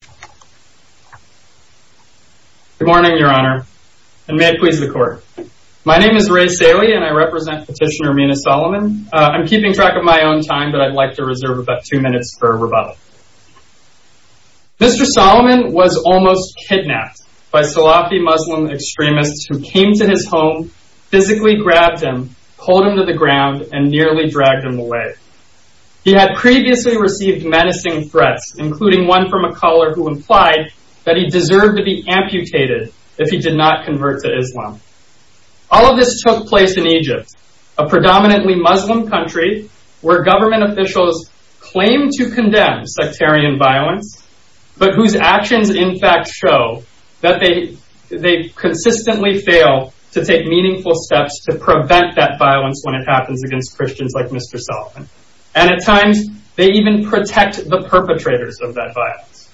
Good morning, Your Honor, and may it please the Court. My name is Ray Saley, and I represent Petitioner Mina Soliman. I'm keeping track of my own time, but I'd like to reserve about two minutes for rebuttal. Mr. Soliman was almost kidnapped by Salafi Muslim extremists who came to his home, physically grabbed him, pulled him to the ground, and nearly dragged him away. He had previously received menacing threats, including one from a caller who implied that he deserved to be amputated if he did not convert to Islam. All of this took place in Egypt, a predominantly Muslim country where government officials claim to condemn sectarian violence, but whose actions in fact show that they consistently fail to take meaningful steps to prevent that violence when it happens against Christians like Mr. Soliman. And at times, they even protect the perpetrators of that violence.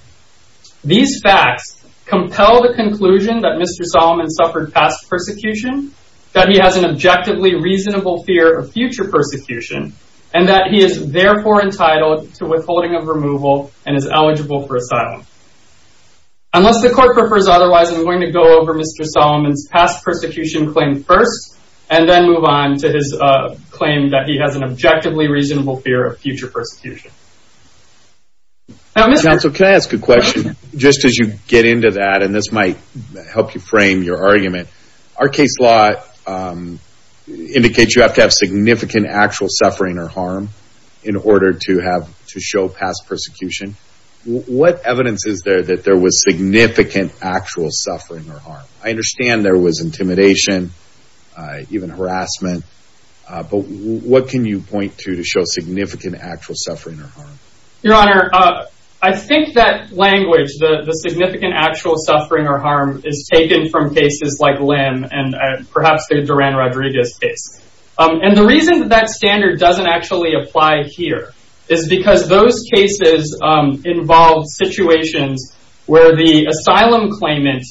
These facts compel the conclusion that Mr. Soliman suffered past persecution, that he has an objectively reasonable fear of future persecution, and that he is therefore entitled to withholding of removal and is eligible for asylum. Unless the Court prefers otherwise, I'm going to go over Mr. Soliman's past persecution claim first, and then move on to his claim that he has an objectively reasonable fear of future persecution. Counsel, can I ask a question? Just as you get into that, and this might help you frame your argument, our case law indicates you have to have significant actual suffering or harm in order to have to show past persecution. What evidence is there that there was significant actual suffering or harm? I understand there was intimidation, even harassment, but what can you point to to show significant actual suffering or harm? Your Honor, I think that language, the significant actual suffering or harm, is taken from cases like Lim and perhaps the Duran Rodriguez case. And the reason that that standard doesn't actually apply here is because those cases involve situations where the asylum claimant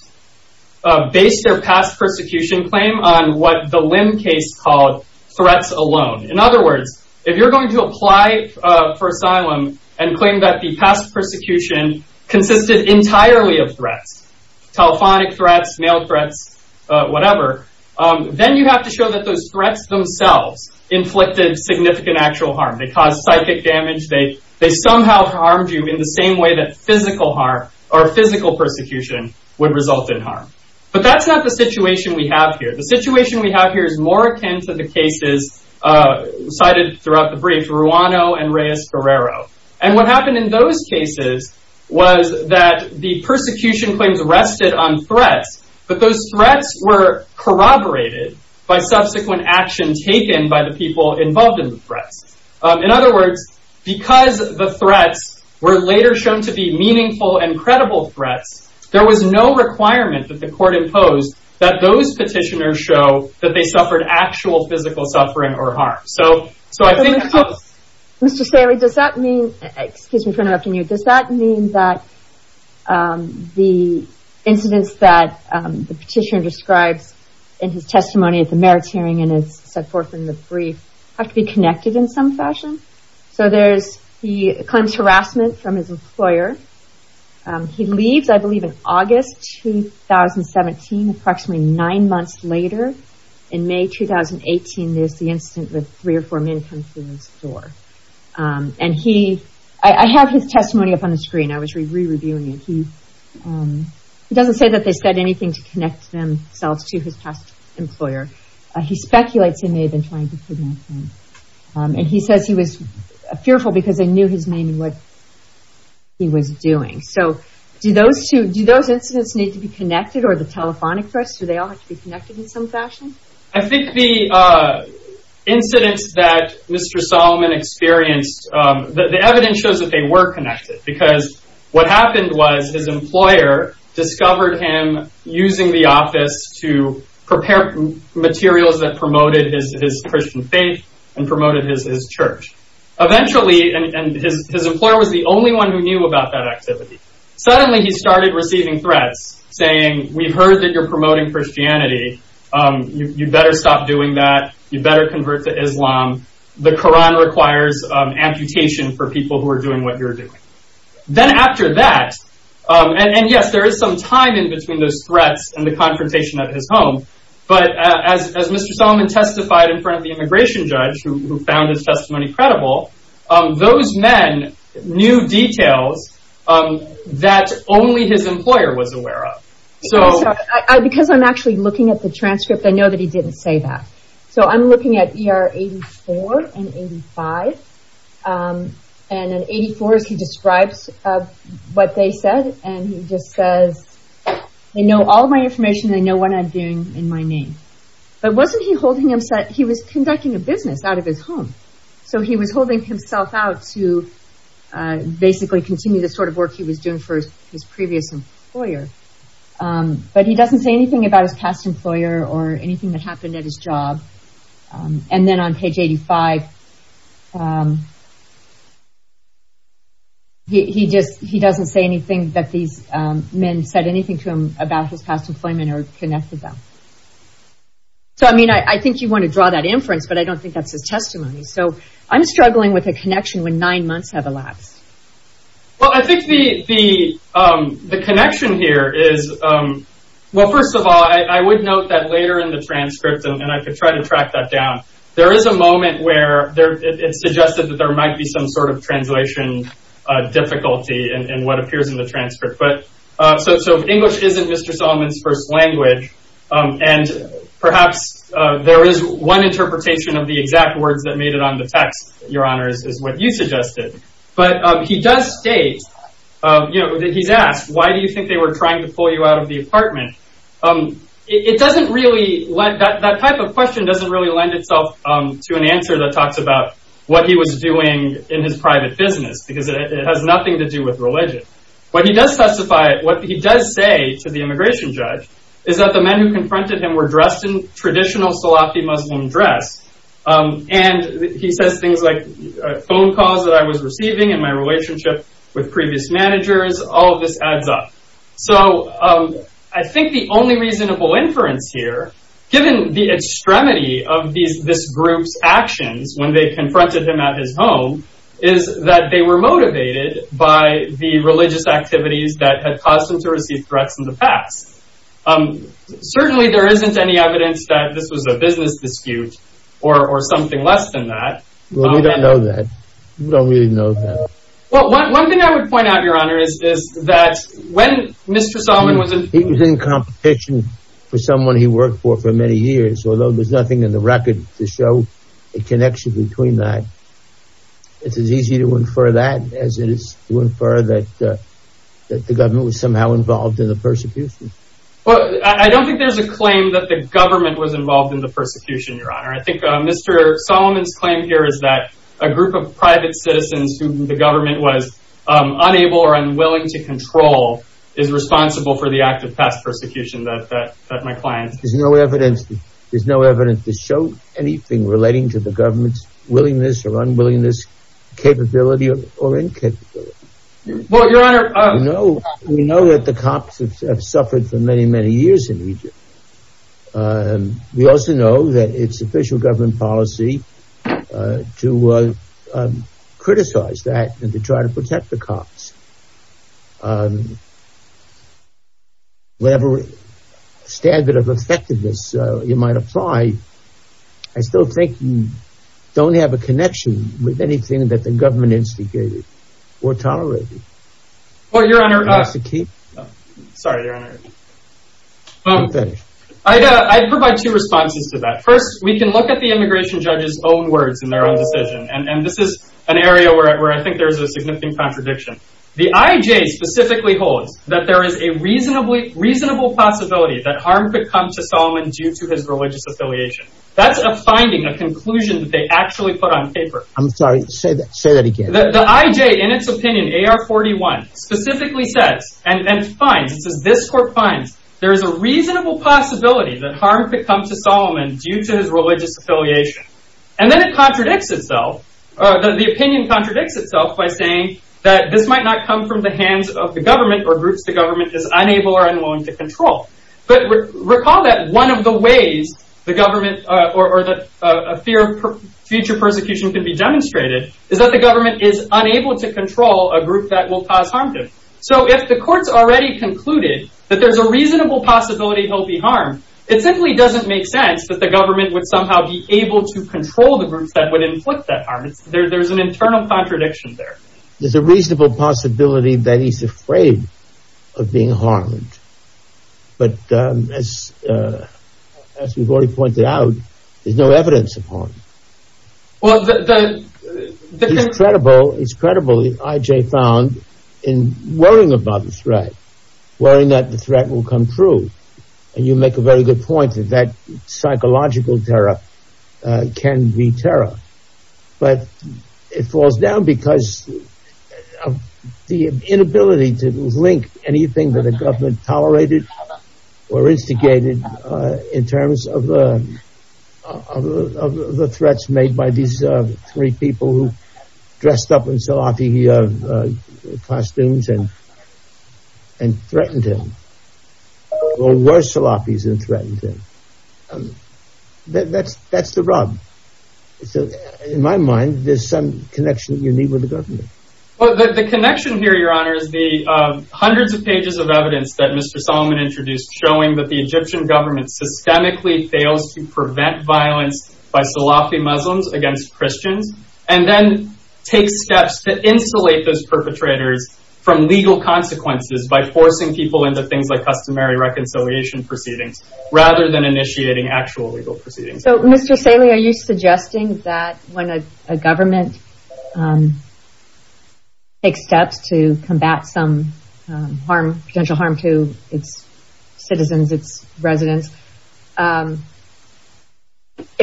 based their past persecution claim on what the Lim case called threats alone. In other words, if you're going to apply for asylum and claim that the past persecution consisted entirely of threats, telephonic threats, mail threats, whatever, then you have to show that those threats themselves inflicted significant actual harm. They caused you in the same way that physical harm or physical persecution would result in harm. But that's not the situation we have here. The situation we have here is more akin to the cases cited throughout the brief, Ruano and Reyes-Guerrero. And what happened in those cases was that the persecution claims rested on threats, but those threats were corroborated by subsequent action taken by the people involved in the threats. In other words, because the threats were later shown to be meaningful and credible threats, there was no requirement that the court impose that those petitioners show that they suffered actual physical suffering or harm. So I think... Mr. Staley, does that mean, excuse me for interrupting you, does that mean that the incidents that the petitioner describes in his testimony at the merits hearing and so forth in the brief have to be connected in some fashion? So there's, he claims harassment from his employer. He leaves, I believe, in August 2017, approximately nine months later, in May 2018, there's the incident with three or four men coming through his door. And he, I have his testimony up on the screen. I was re-reviewing it. He doesn't say that they said anything to connect themselves to his past employer. He speculates he may have been trying to kidnap him. And he says he was fearful because they knew his name and what he was doing. So do those two, do those incidents need to be connected or the telephonic threats, do they all have to be connected in some fashion? I think the incidents that Mr. Solomon experienced, the evidence shows that they were connected because what happened was his employer discovered him using the office to prepare materials that promoted his Christian faith and promoted his church. Eventually, and his employer was the only one who knew about that activity. Suddenly, he started receiving threats saying, we've heard that you're promoting Christianity. You better stop doing that. You are doing what you're doing. Then after that, and yes, there is some time in between those threats and the confrontation at his home. But as Mr. Solomon testified in front of the immigration judge, who found his testimony credible, those men knew details that only his employer was aware of. So because I'm actually looking at the transcript, I know that he didn't say that. So I'm looking at 84 and 85. And in 84, he describes what they said. And he just says, they know all of my information. They know what I'm doing in my name. But wasn't he holding himself, he was conducting a business out of his home. So he was holding himself out to basically continue the sort of work he was doing for his previous employer. But he doesn't say anything about his past employer or anything that happened at his job. And then on page 85, he doesn't say anything that these men said anything to him about his past employment or connected them. So I mean, I think you want to draw that inference, but I don't think that's his testimony. So I'm struggling with a connection when nine First of all, I would note that later in the transcript, and I could try to track that down. There is a moment where there it suggested that there might be some sort of translation difficulty and what appears in the transcript. But so if English isn't Mr. Solomon's first language, and perhaps there is one interpretation of the exact words that made it on the text, Your Honor, is what you suggested. But he does state, you know, he's asked, why do you think they were trying to pull you out of the apartment? It doesn't really let that type of question doesn't really lend itself to an answer that talks about what he was doing in his private business, because it has nothing to do with religion. But he does testify, what he does say to the immigration judge, is that the men who confronted him were dressed in traditional Salafi Muslim dress. And he says things like phone calls that I was receiving in my relationship with previous managers, all of this adds up. So I think the only reasonable inference here, given the extremity of these this group's actions, when they confronted him at his home, is that they were motivated by the religious activities that had caused them to receive threats in the past. Certainly, there isn't any evidence that this was a business dispute, or something less than that. Well, we don't know that. We don't really know. Well, one thing I would point out, Your Honor, is that when Mr. Solomon was in competition with someone he worked for for many years, although there's nothing in the record to show a connection between that. It's as easy to infer that as it is to infer that, that the government was somehow involved in the persecution. Well, I don't think there's a claim that the government was involved in the persecution, Your Honor. I think Mr. Solomon's claim is that a group of private citizens who the government was unable or unwilling to control is responsible for the act of past persecution that my client... There's no evidence. There's no evidence to show anything relating to the government's willingness or unwillingness, capability or incapability. Well, Your Honor... We know that the cops have suffered for many, many years in Egypt. And we also know that it's official government policy to criticize that and to try to protect the cops. Whatever standard of effectiveness you might apply, I still think you don't have a connection with anything that the government instigated or tolerated. Well, Your Honor... Sorry, Your Honor. I'd provide two responses to that. First, we can look at the immigration judge's own words in their own decision. And this is an area where I think there's a significant contradiction. The IJ specifically holds that there is a reasonable possibility that harm could come to Solomon due to his religious affiliation. That's a finding, a conclusion that they actually put on paper. I'm sorry, say that again. The IJ, in its opinion, AR-41, specifically says and finds, it says this court finds there is a reasonable possibility that harm could come to Solomon due to his religious affiliation. And then it contradicts itself. The opinion contradicts itself by saying that this might not come from the hands of the government or groups the government is unable or unwilling to control. But recall that one of the ways the government or that a fear of future persecution can be demonstrated is that the government is unable to control a group that will cause harm to him. So if the court's already concluded that there's a reasonable possibility he'll be harmed, it simply doesn't make sense that the government would somehow be able to control the groups that would inflict that harm. There's an internal contradiction there. There's a reasonable possibility that he's afraid of being harmed. But as we've already pointed out, there's no evidence of harm. Well, the... It's credible, it's credible, the IJ found in worrying about the threat. Worrying that the threat will come true. And you make a very good point that psychological terror can be terror. But it falls down because of the inability to link anything that the government tolerated or instigated in terms of the threats made by these three people who dressed up in Salafi costumes and threatened him. Or were Salafis and threatened him. That's the rub. So, in my mind, there's some connection you need with the government. Well, the connection here, your honor, is the hundreds of pages of evidence that Mr. Solomon introduced showing that the Egyptian government systemically fails to prevent violence by Salafi Muslims against Christians, and then takes steps to insulate those proceedings, rather than initiating actual legal proceedings. So, Mr. Saleh, are you suggesting that when a government takes steps to combat some potential harm to its citizens, its residents, if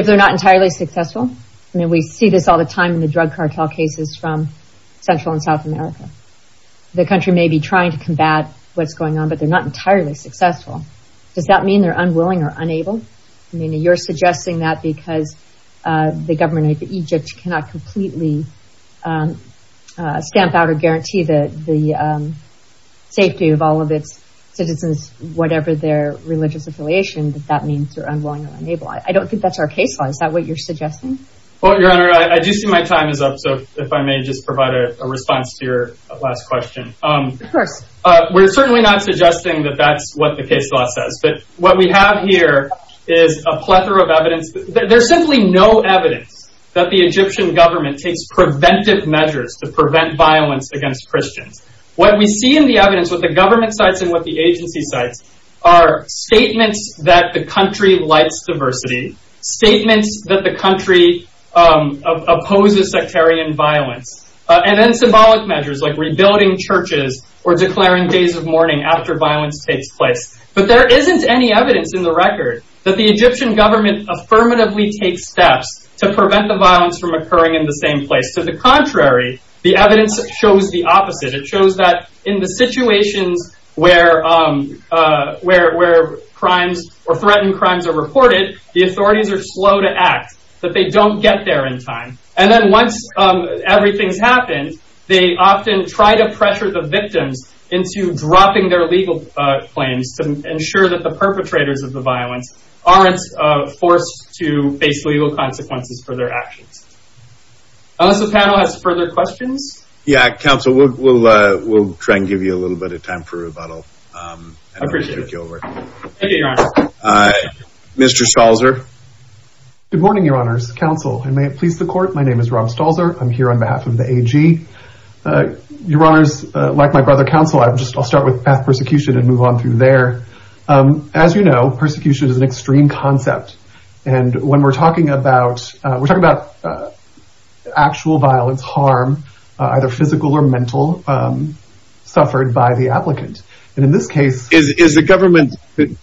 they're not entirely successful? I mean, we see this all the time in the drug cartel cases from Central and South America. The country may be able to combat what's going on, but they're not entirely successful. Does that mean they're unwilling or unable? I mean, you're suggesting that because the government of Egypt cannot completely stamp out or guarantee the safety of all of its citizens, whatever their religious affiliation, that that means they're unwilling or unable. I don't think that's our case law. Is that what you're suggesting? Well, your honor, I do see my time is up. So if I may just provide a response to your last question. Of course. We're certainly not suggesting that that's what the case law says. But what we have here is a plethora of evidence. There's simply no evidence that the Egyptian government takes preventive measures to prevent violence against Christians. What we see in the evidence, what the government cites and what the agency cites, are statements that the country lights diversity, statements that the country opposes sectarian violence, and then symbolic measures like rebuilding churches, or declaring days of mourning after violence takes place. But there isn't any evidence in the record that the Egyptian government affirmatively takes steps to prevent the violence from occurring in the same place. To the contrary, the evidence shows the opposite. It shows that in the situations where crimes or crimes, everything's happened, they often try to pressure the victims into dropping their legal claims to ensure that the perpetrators of the violence aren't forced to face legal consequences for their actions. Unless the panel has further questions. Yeah, counsel, we'll, we'll, we'll try and give you a little bit of time for rebuttal. Mr. Schallzer. Good morning, Your Honors. Counsel, and may it please the court. My name is Rom Schallzer. I'm here on behalf of the AG. Your Honors, like my brother counsel, I just I'll start with path persecution and move on through there. As you know, persecution is an extreme concept. And when we're talking about, we're talking about actual violence, harm, either physical or mental, suffered by the applicant. And in this case, is the government,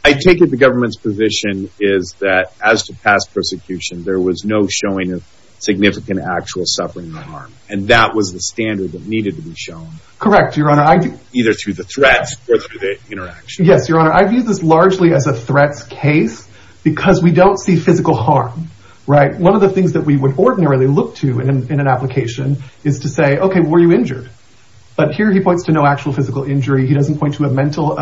I take it the government's position is that as to past persecution, there was no showing of significant actual suffering or harm. And that was the standard that needed to be shown. Correct, Your Honor, either through the threats or through the interaction. Yes, Your Honor, I view this largely as a threats case, because we don't see physical harm, right? One of the things that we would ordinarily look to in an application is to say, okay, were you injured? But here he points to no actual physical injury, he doesn't point to a mental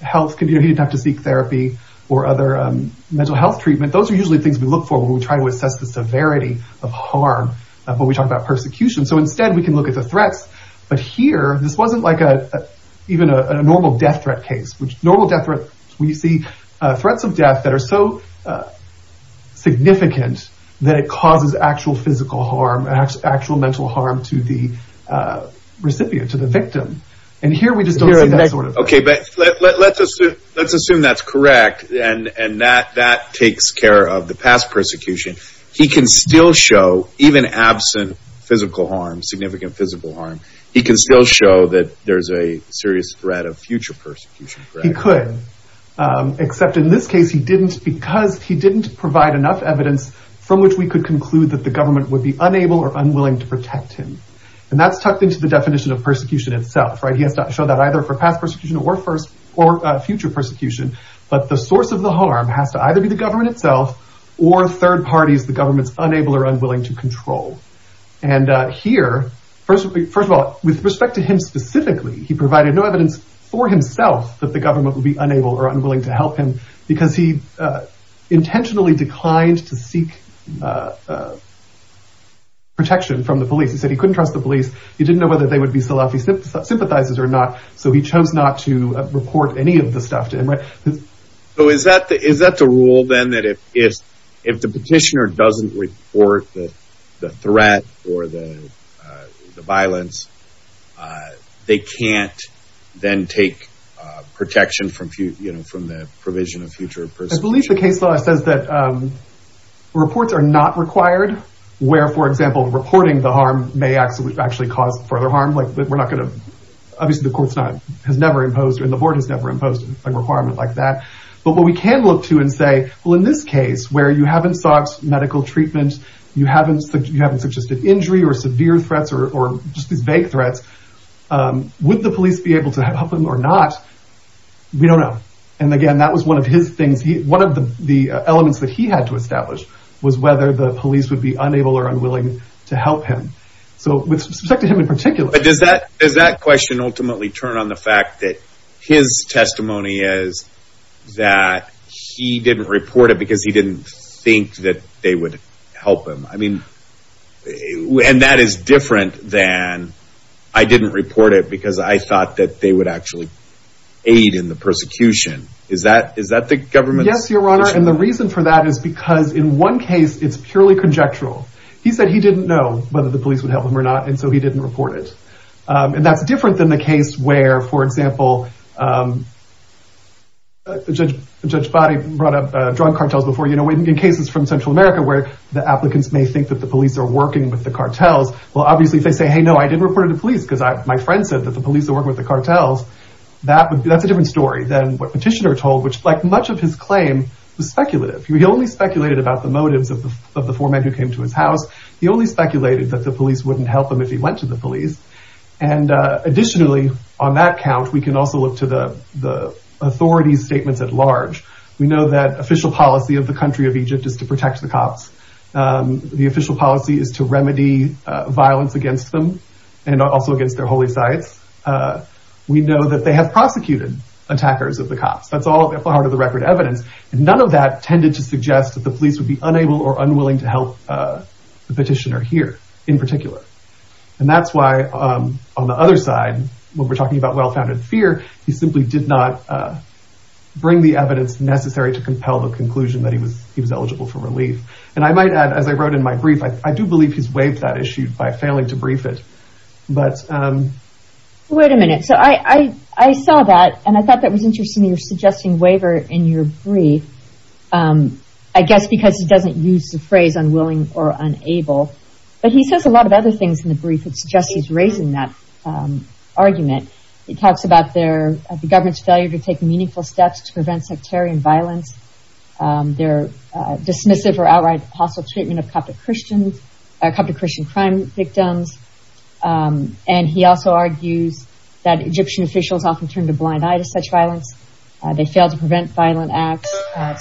health, he didn't have to seek therapy, or other mental health treatment. Those are usually things we look for when we try to assess the severity of harm, when we talk about persecution. So instead, we can look at the threats. But here, this wasn't like a, even a normal death threat case, which normal death threat, we see threats of death that are so significant, that it causes actual physical harm, actual mental harm to the recipient, to the victim. And here we just don't see that sort of thing. Okay, but let's assume that's correct. And that takes care of the past persecution. He can still show, even absent physical harm, significant physical harm, he can still show that there's a serious threat of future persecution, correct? He could. Except in this case, he didn't because he didn't provide enough evidence from which we could be unable or unwilling to protect him. And that's tucked into the definition of persecution itself, right? He has to show that either for past persecution, or first, or future persecution, but the source of the harm has to either be the government itself, or third parties, the government's unable or unwilling to control. And here, first, first of all, with respect to him specifically, he provided no evidence for the government would be unable or unwilling to help him, because he intentionally declined to seek protection from the police. He said he couldn't trust the police. He didn't know whether they would be Salafi sympathizers or not. So he chose not to report any of the stuff to him. So is that the rule, then, that if the petitioner doesn't report the threat, or the violence, they can't then take protection from the provision of future persecution? I believe the case law says that reports are not required, where, for example, reporting the harm may actually cause further harm. Like, we're not like that. But what we can look to and say, well, in this case, where you haven't sought medical treatment, you haven't, you haven't suggested injury or severe threats, or just these vague threats, would the police be able to help him or not? We don't know. And again, that was one of his things. One of the elements that he had to establish was whether the police would be unable or unwilling to help him. So with respect to him in particular, But does that, does that question ultimately turn on the fact that his testimony is that he didn't report it because he didn't think that they would help him? I mean, and that is different than, I didn't report it because I thought that they would actually aid in the persecution. Is that, is that the government? Yes, Your Honor. And the reason for that is because in one case, it's purely conjectural. He said he didn't know whether the police would help him or not. And so he didn't report it. And that's different than the case where, for example, Judge Boddy brought up drug cartels before, you know, in cases from Central America where the applicants may think that the police are working with the cartels. Well, obviously, if they say, hey, no, I didn't report it to police because my friend said that the police are working with the cartels. That's a different story than what Petitioner told, which like much of his claim was speculative. He only speculated about the motives of the four men who came to his house. He only speculated that the police wouldn't help him if he went to the police. And additionally, on that count, we can also look to the authorities statements at large. We know that official policy of the country of Egypt is to protect the cops. The official policy is to remedy violence against them and also against their holy sites. We know that they have prosecuted attackers of the cops. That's all part of the record evidence. And none of that tended to suggest that the And that's why on the other side, when we're talking about well-founded fear, he simply did not bring the evidence necessary to compel the conclusion that he was he was eligible for relief. And I might add, as I wrote in my brief, I do believe he's waived that issue by failing to brief it. But wait a minute. So I I saw that and I thought that was interesting. You're suggesting waiver in your brief, I guess, because he doesn't use the phrase unwilling or unable. But he says a lot of other things in the brief. It's just he's raising that argument. He talks about their government's failure to take meaningful steps to prevent sectarian violence. They're dismissive or outright hostile treatment of Coptic Christians, Coptic Christian crime victims. And he also argues that Egyptian officials often turn a blind eye to such violence. They fail to prevent violent acts.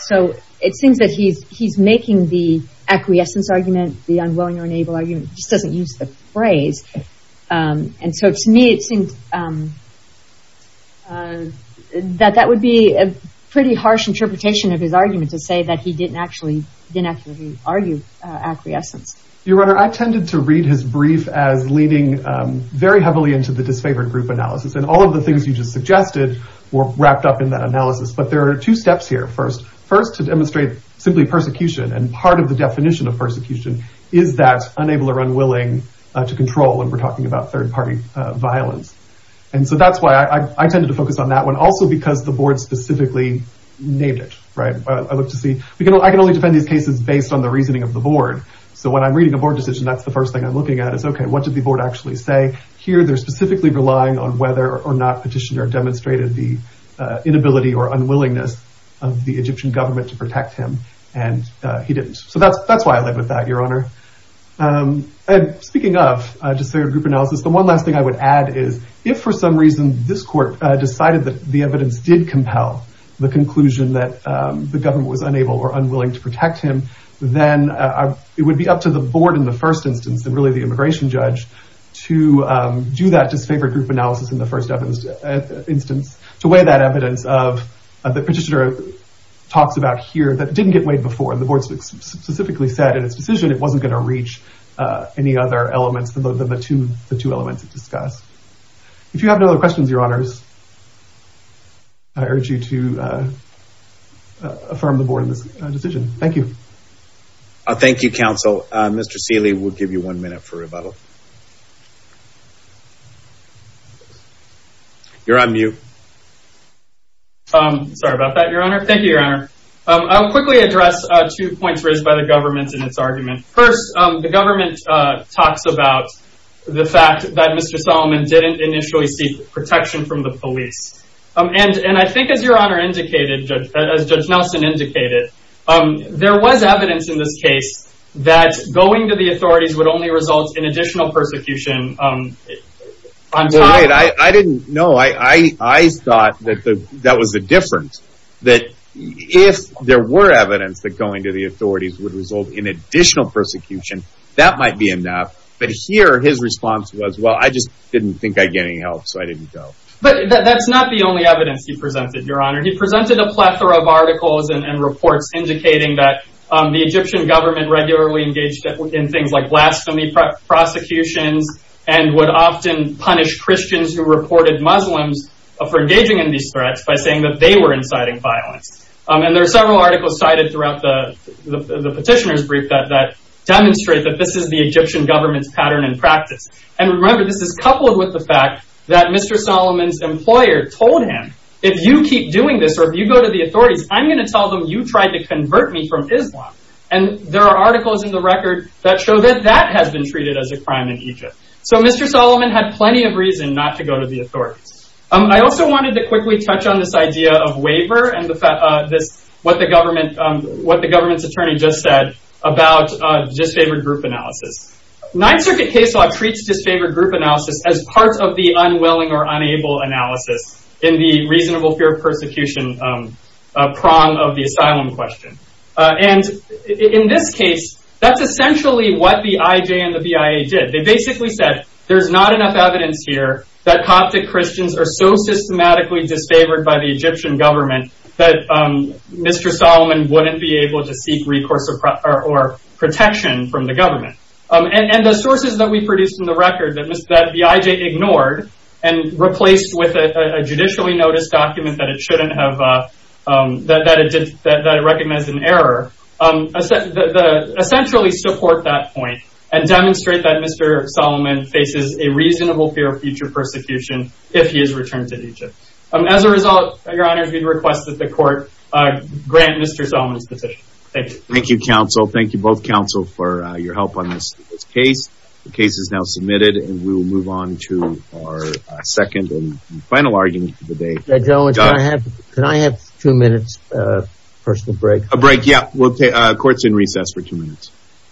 So it seems that he's he's making the acquiescence argument. The unwilling or unable argument just doesn't use the phrase. And so to me, it seems that that would be a pretty harsh interpretation of his argument to say that he didn't actually didn't actually argue acquiescence. Your Honor, I tended to read his brief as leaning very heavily into the disfavored group analysis. And all of the things you just suggested were wrapped up in that analysis. But there are two steps here. First, first to demonstrate simply persecution. And part of the definition of persecution is that unable or unwilling to control. And we're talking about third party violence. And so that's why I tended to focus on that one. Also, because the board specifically named it. Right. I look to see, you know, I can only defend these cases based on the reasoning of the board. So when I'm reading a board decision, that's the first thing I'm looking at is, OK, what did the board actually say here? They're specifically relying on whether or not petitioner demonstrated the inability or unwillingness of the Egyptian government to protect him. And he didn't. So that's that's why I live with that, Your Honor. And speaking of disfavored group analysis, the one last thing I would add is if for some reason this court decided that the evidence did compel the conclusion that the government was unable or unwilling to protect him, then it would be up to the board in the first instance, and really the immigration judge, to do that disfavored group analysis in the first instance, to weigh that evidence of the petitioner talks about here that didn't get weighed before. And the board specifically said in its decision it wasn't going to reach any other elements than the two elements discussed. If you have no other questions, Your Honors, I urge you to affirm the board in this decision. Thank you. Thank you, Counsel. Mr. Seeley, we'll give you one minute for rebuttal. You're on mute. Sorry about that, Your Honor. Thank you, Your Honor. I'll quickly address two points raised by the government in its argument. First, the government talks about the fact that Mr. Solomon didn't initially seek protection from the police. And I think as Your Honor indicated, as Judge Nelson indicated, there was evidence in this case that going to the authorities would only result in additional persecution. I didn't know. I thought that that was the difference. That if there were evidence that going to the authorities would result in additional persecution, that might be enough. But here, his response was, well, I just didn't think I'd get any help, so I didn't go. But that's not the only evidence he presented, Your Honor. He presented a plethora of articles and reports indicating that the Egyptian government regularly engaged in things like blasphemy prosecutions and would often punish Christians who reported Muslims for engaging in these threats by saying that they were inciting violence. And there are several articles cited throughout the petitioner's brief that demonstrate that this is the Egyptian government's pattern and practice. And remember, this is coupled with the fact that Mr. Solomon's employer told him, if you keep doing this, or if you go to the authorities, I'm going to tell them you tried to convert me from Islam. And there are articles in the record that show that that has been treated as a crime in Egypt. So Mr. Solomon had plenty of reason not to go to the authorities. I also wanted to quickly touch on this idea of waiver and what the government's attorney just said about disfavored group analysis. Ninth Circuit case law treats disfavored group analysis as part of the unwilling or unable analysis in the reasonable fear of persecution prong of the asylum question. And in this case, that's essentially what the IJ and the BIA did. They basically said, there's not enough evidence here that Coptic Christians are so systematically disfavored by the Egyptian government that Mr. Solomon wouldn't be able to seek recourse or protection from the government. And the sources that we produced in the record that the IJ ignored and replaced with a judicially noticed document that it recognized an error, essentially support that point and demonstrate that Mr. Solomon faces a And as a result, Your Honor, we request that the court grant Mr. Solomon's petition. Thank you. Thank you, counsel. Thank you both counsel for your help on this case. The case is now submitted and we will move on to our second and final argument of the day. Gentlemen, can I have two minutes of personal break? A break, yeah. Court's in recess for two minutes.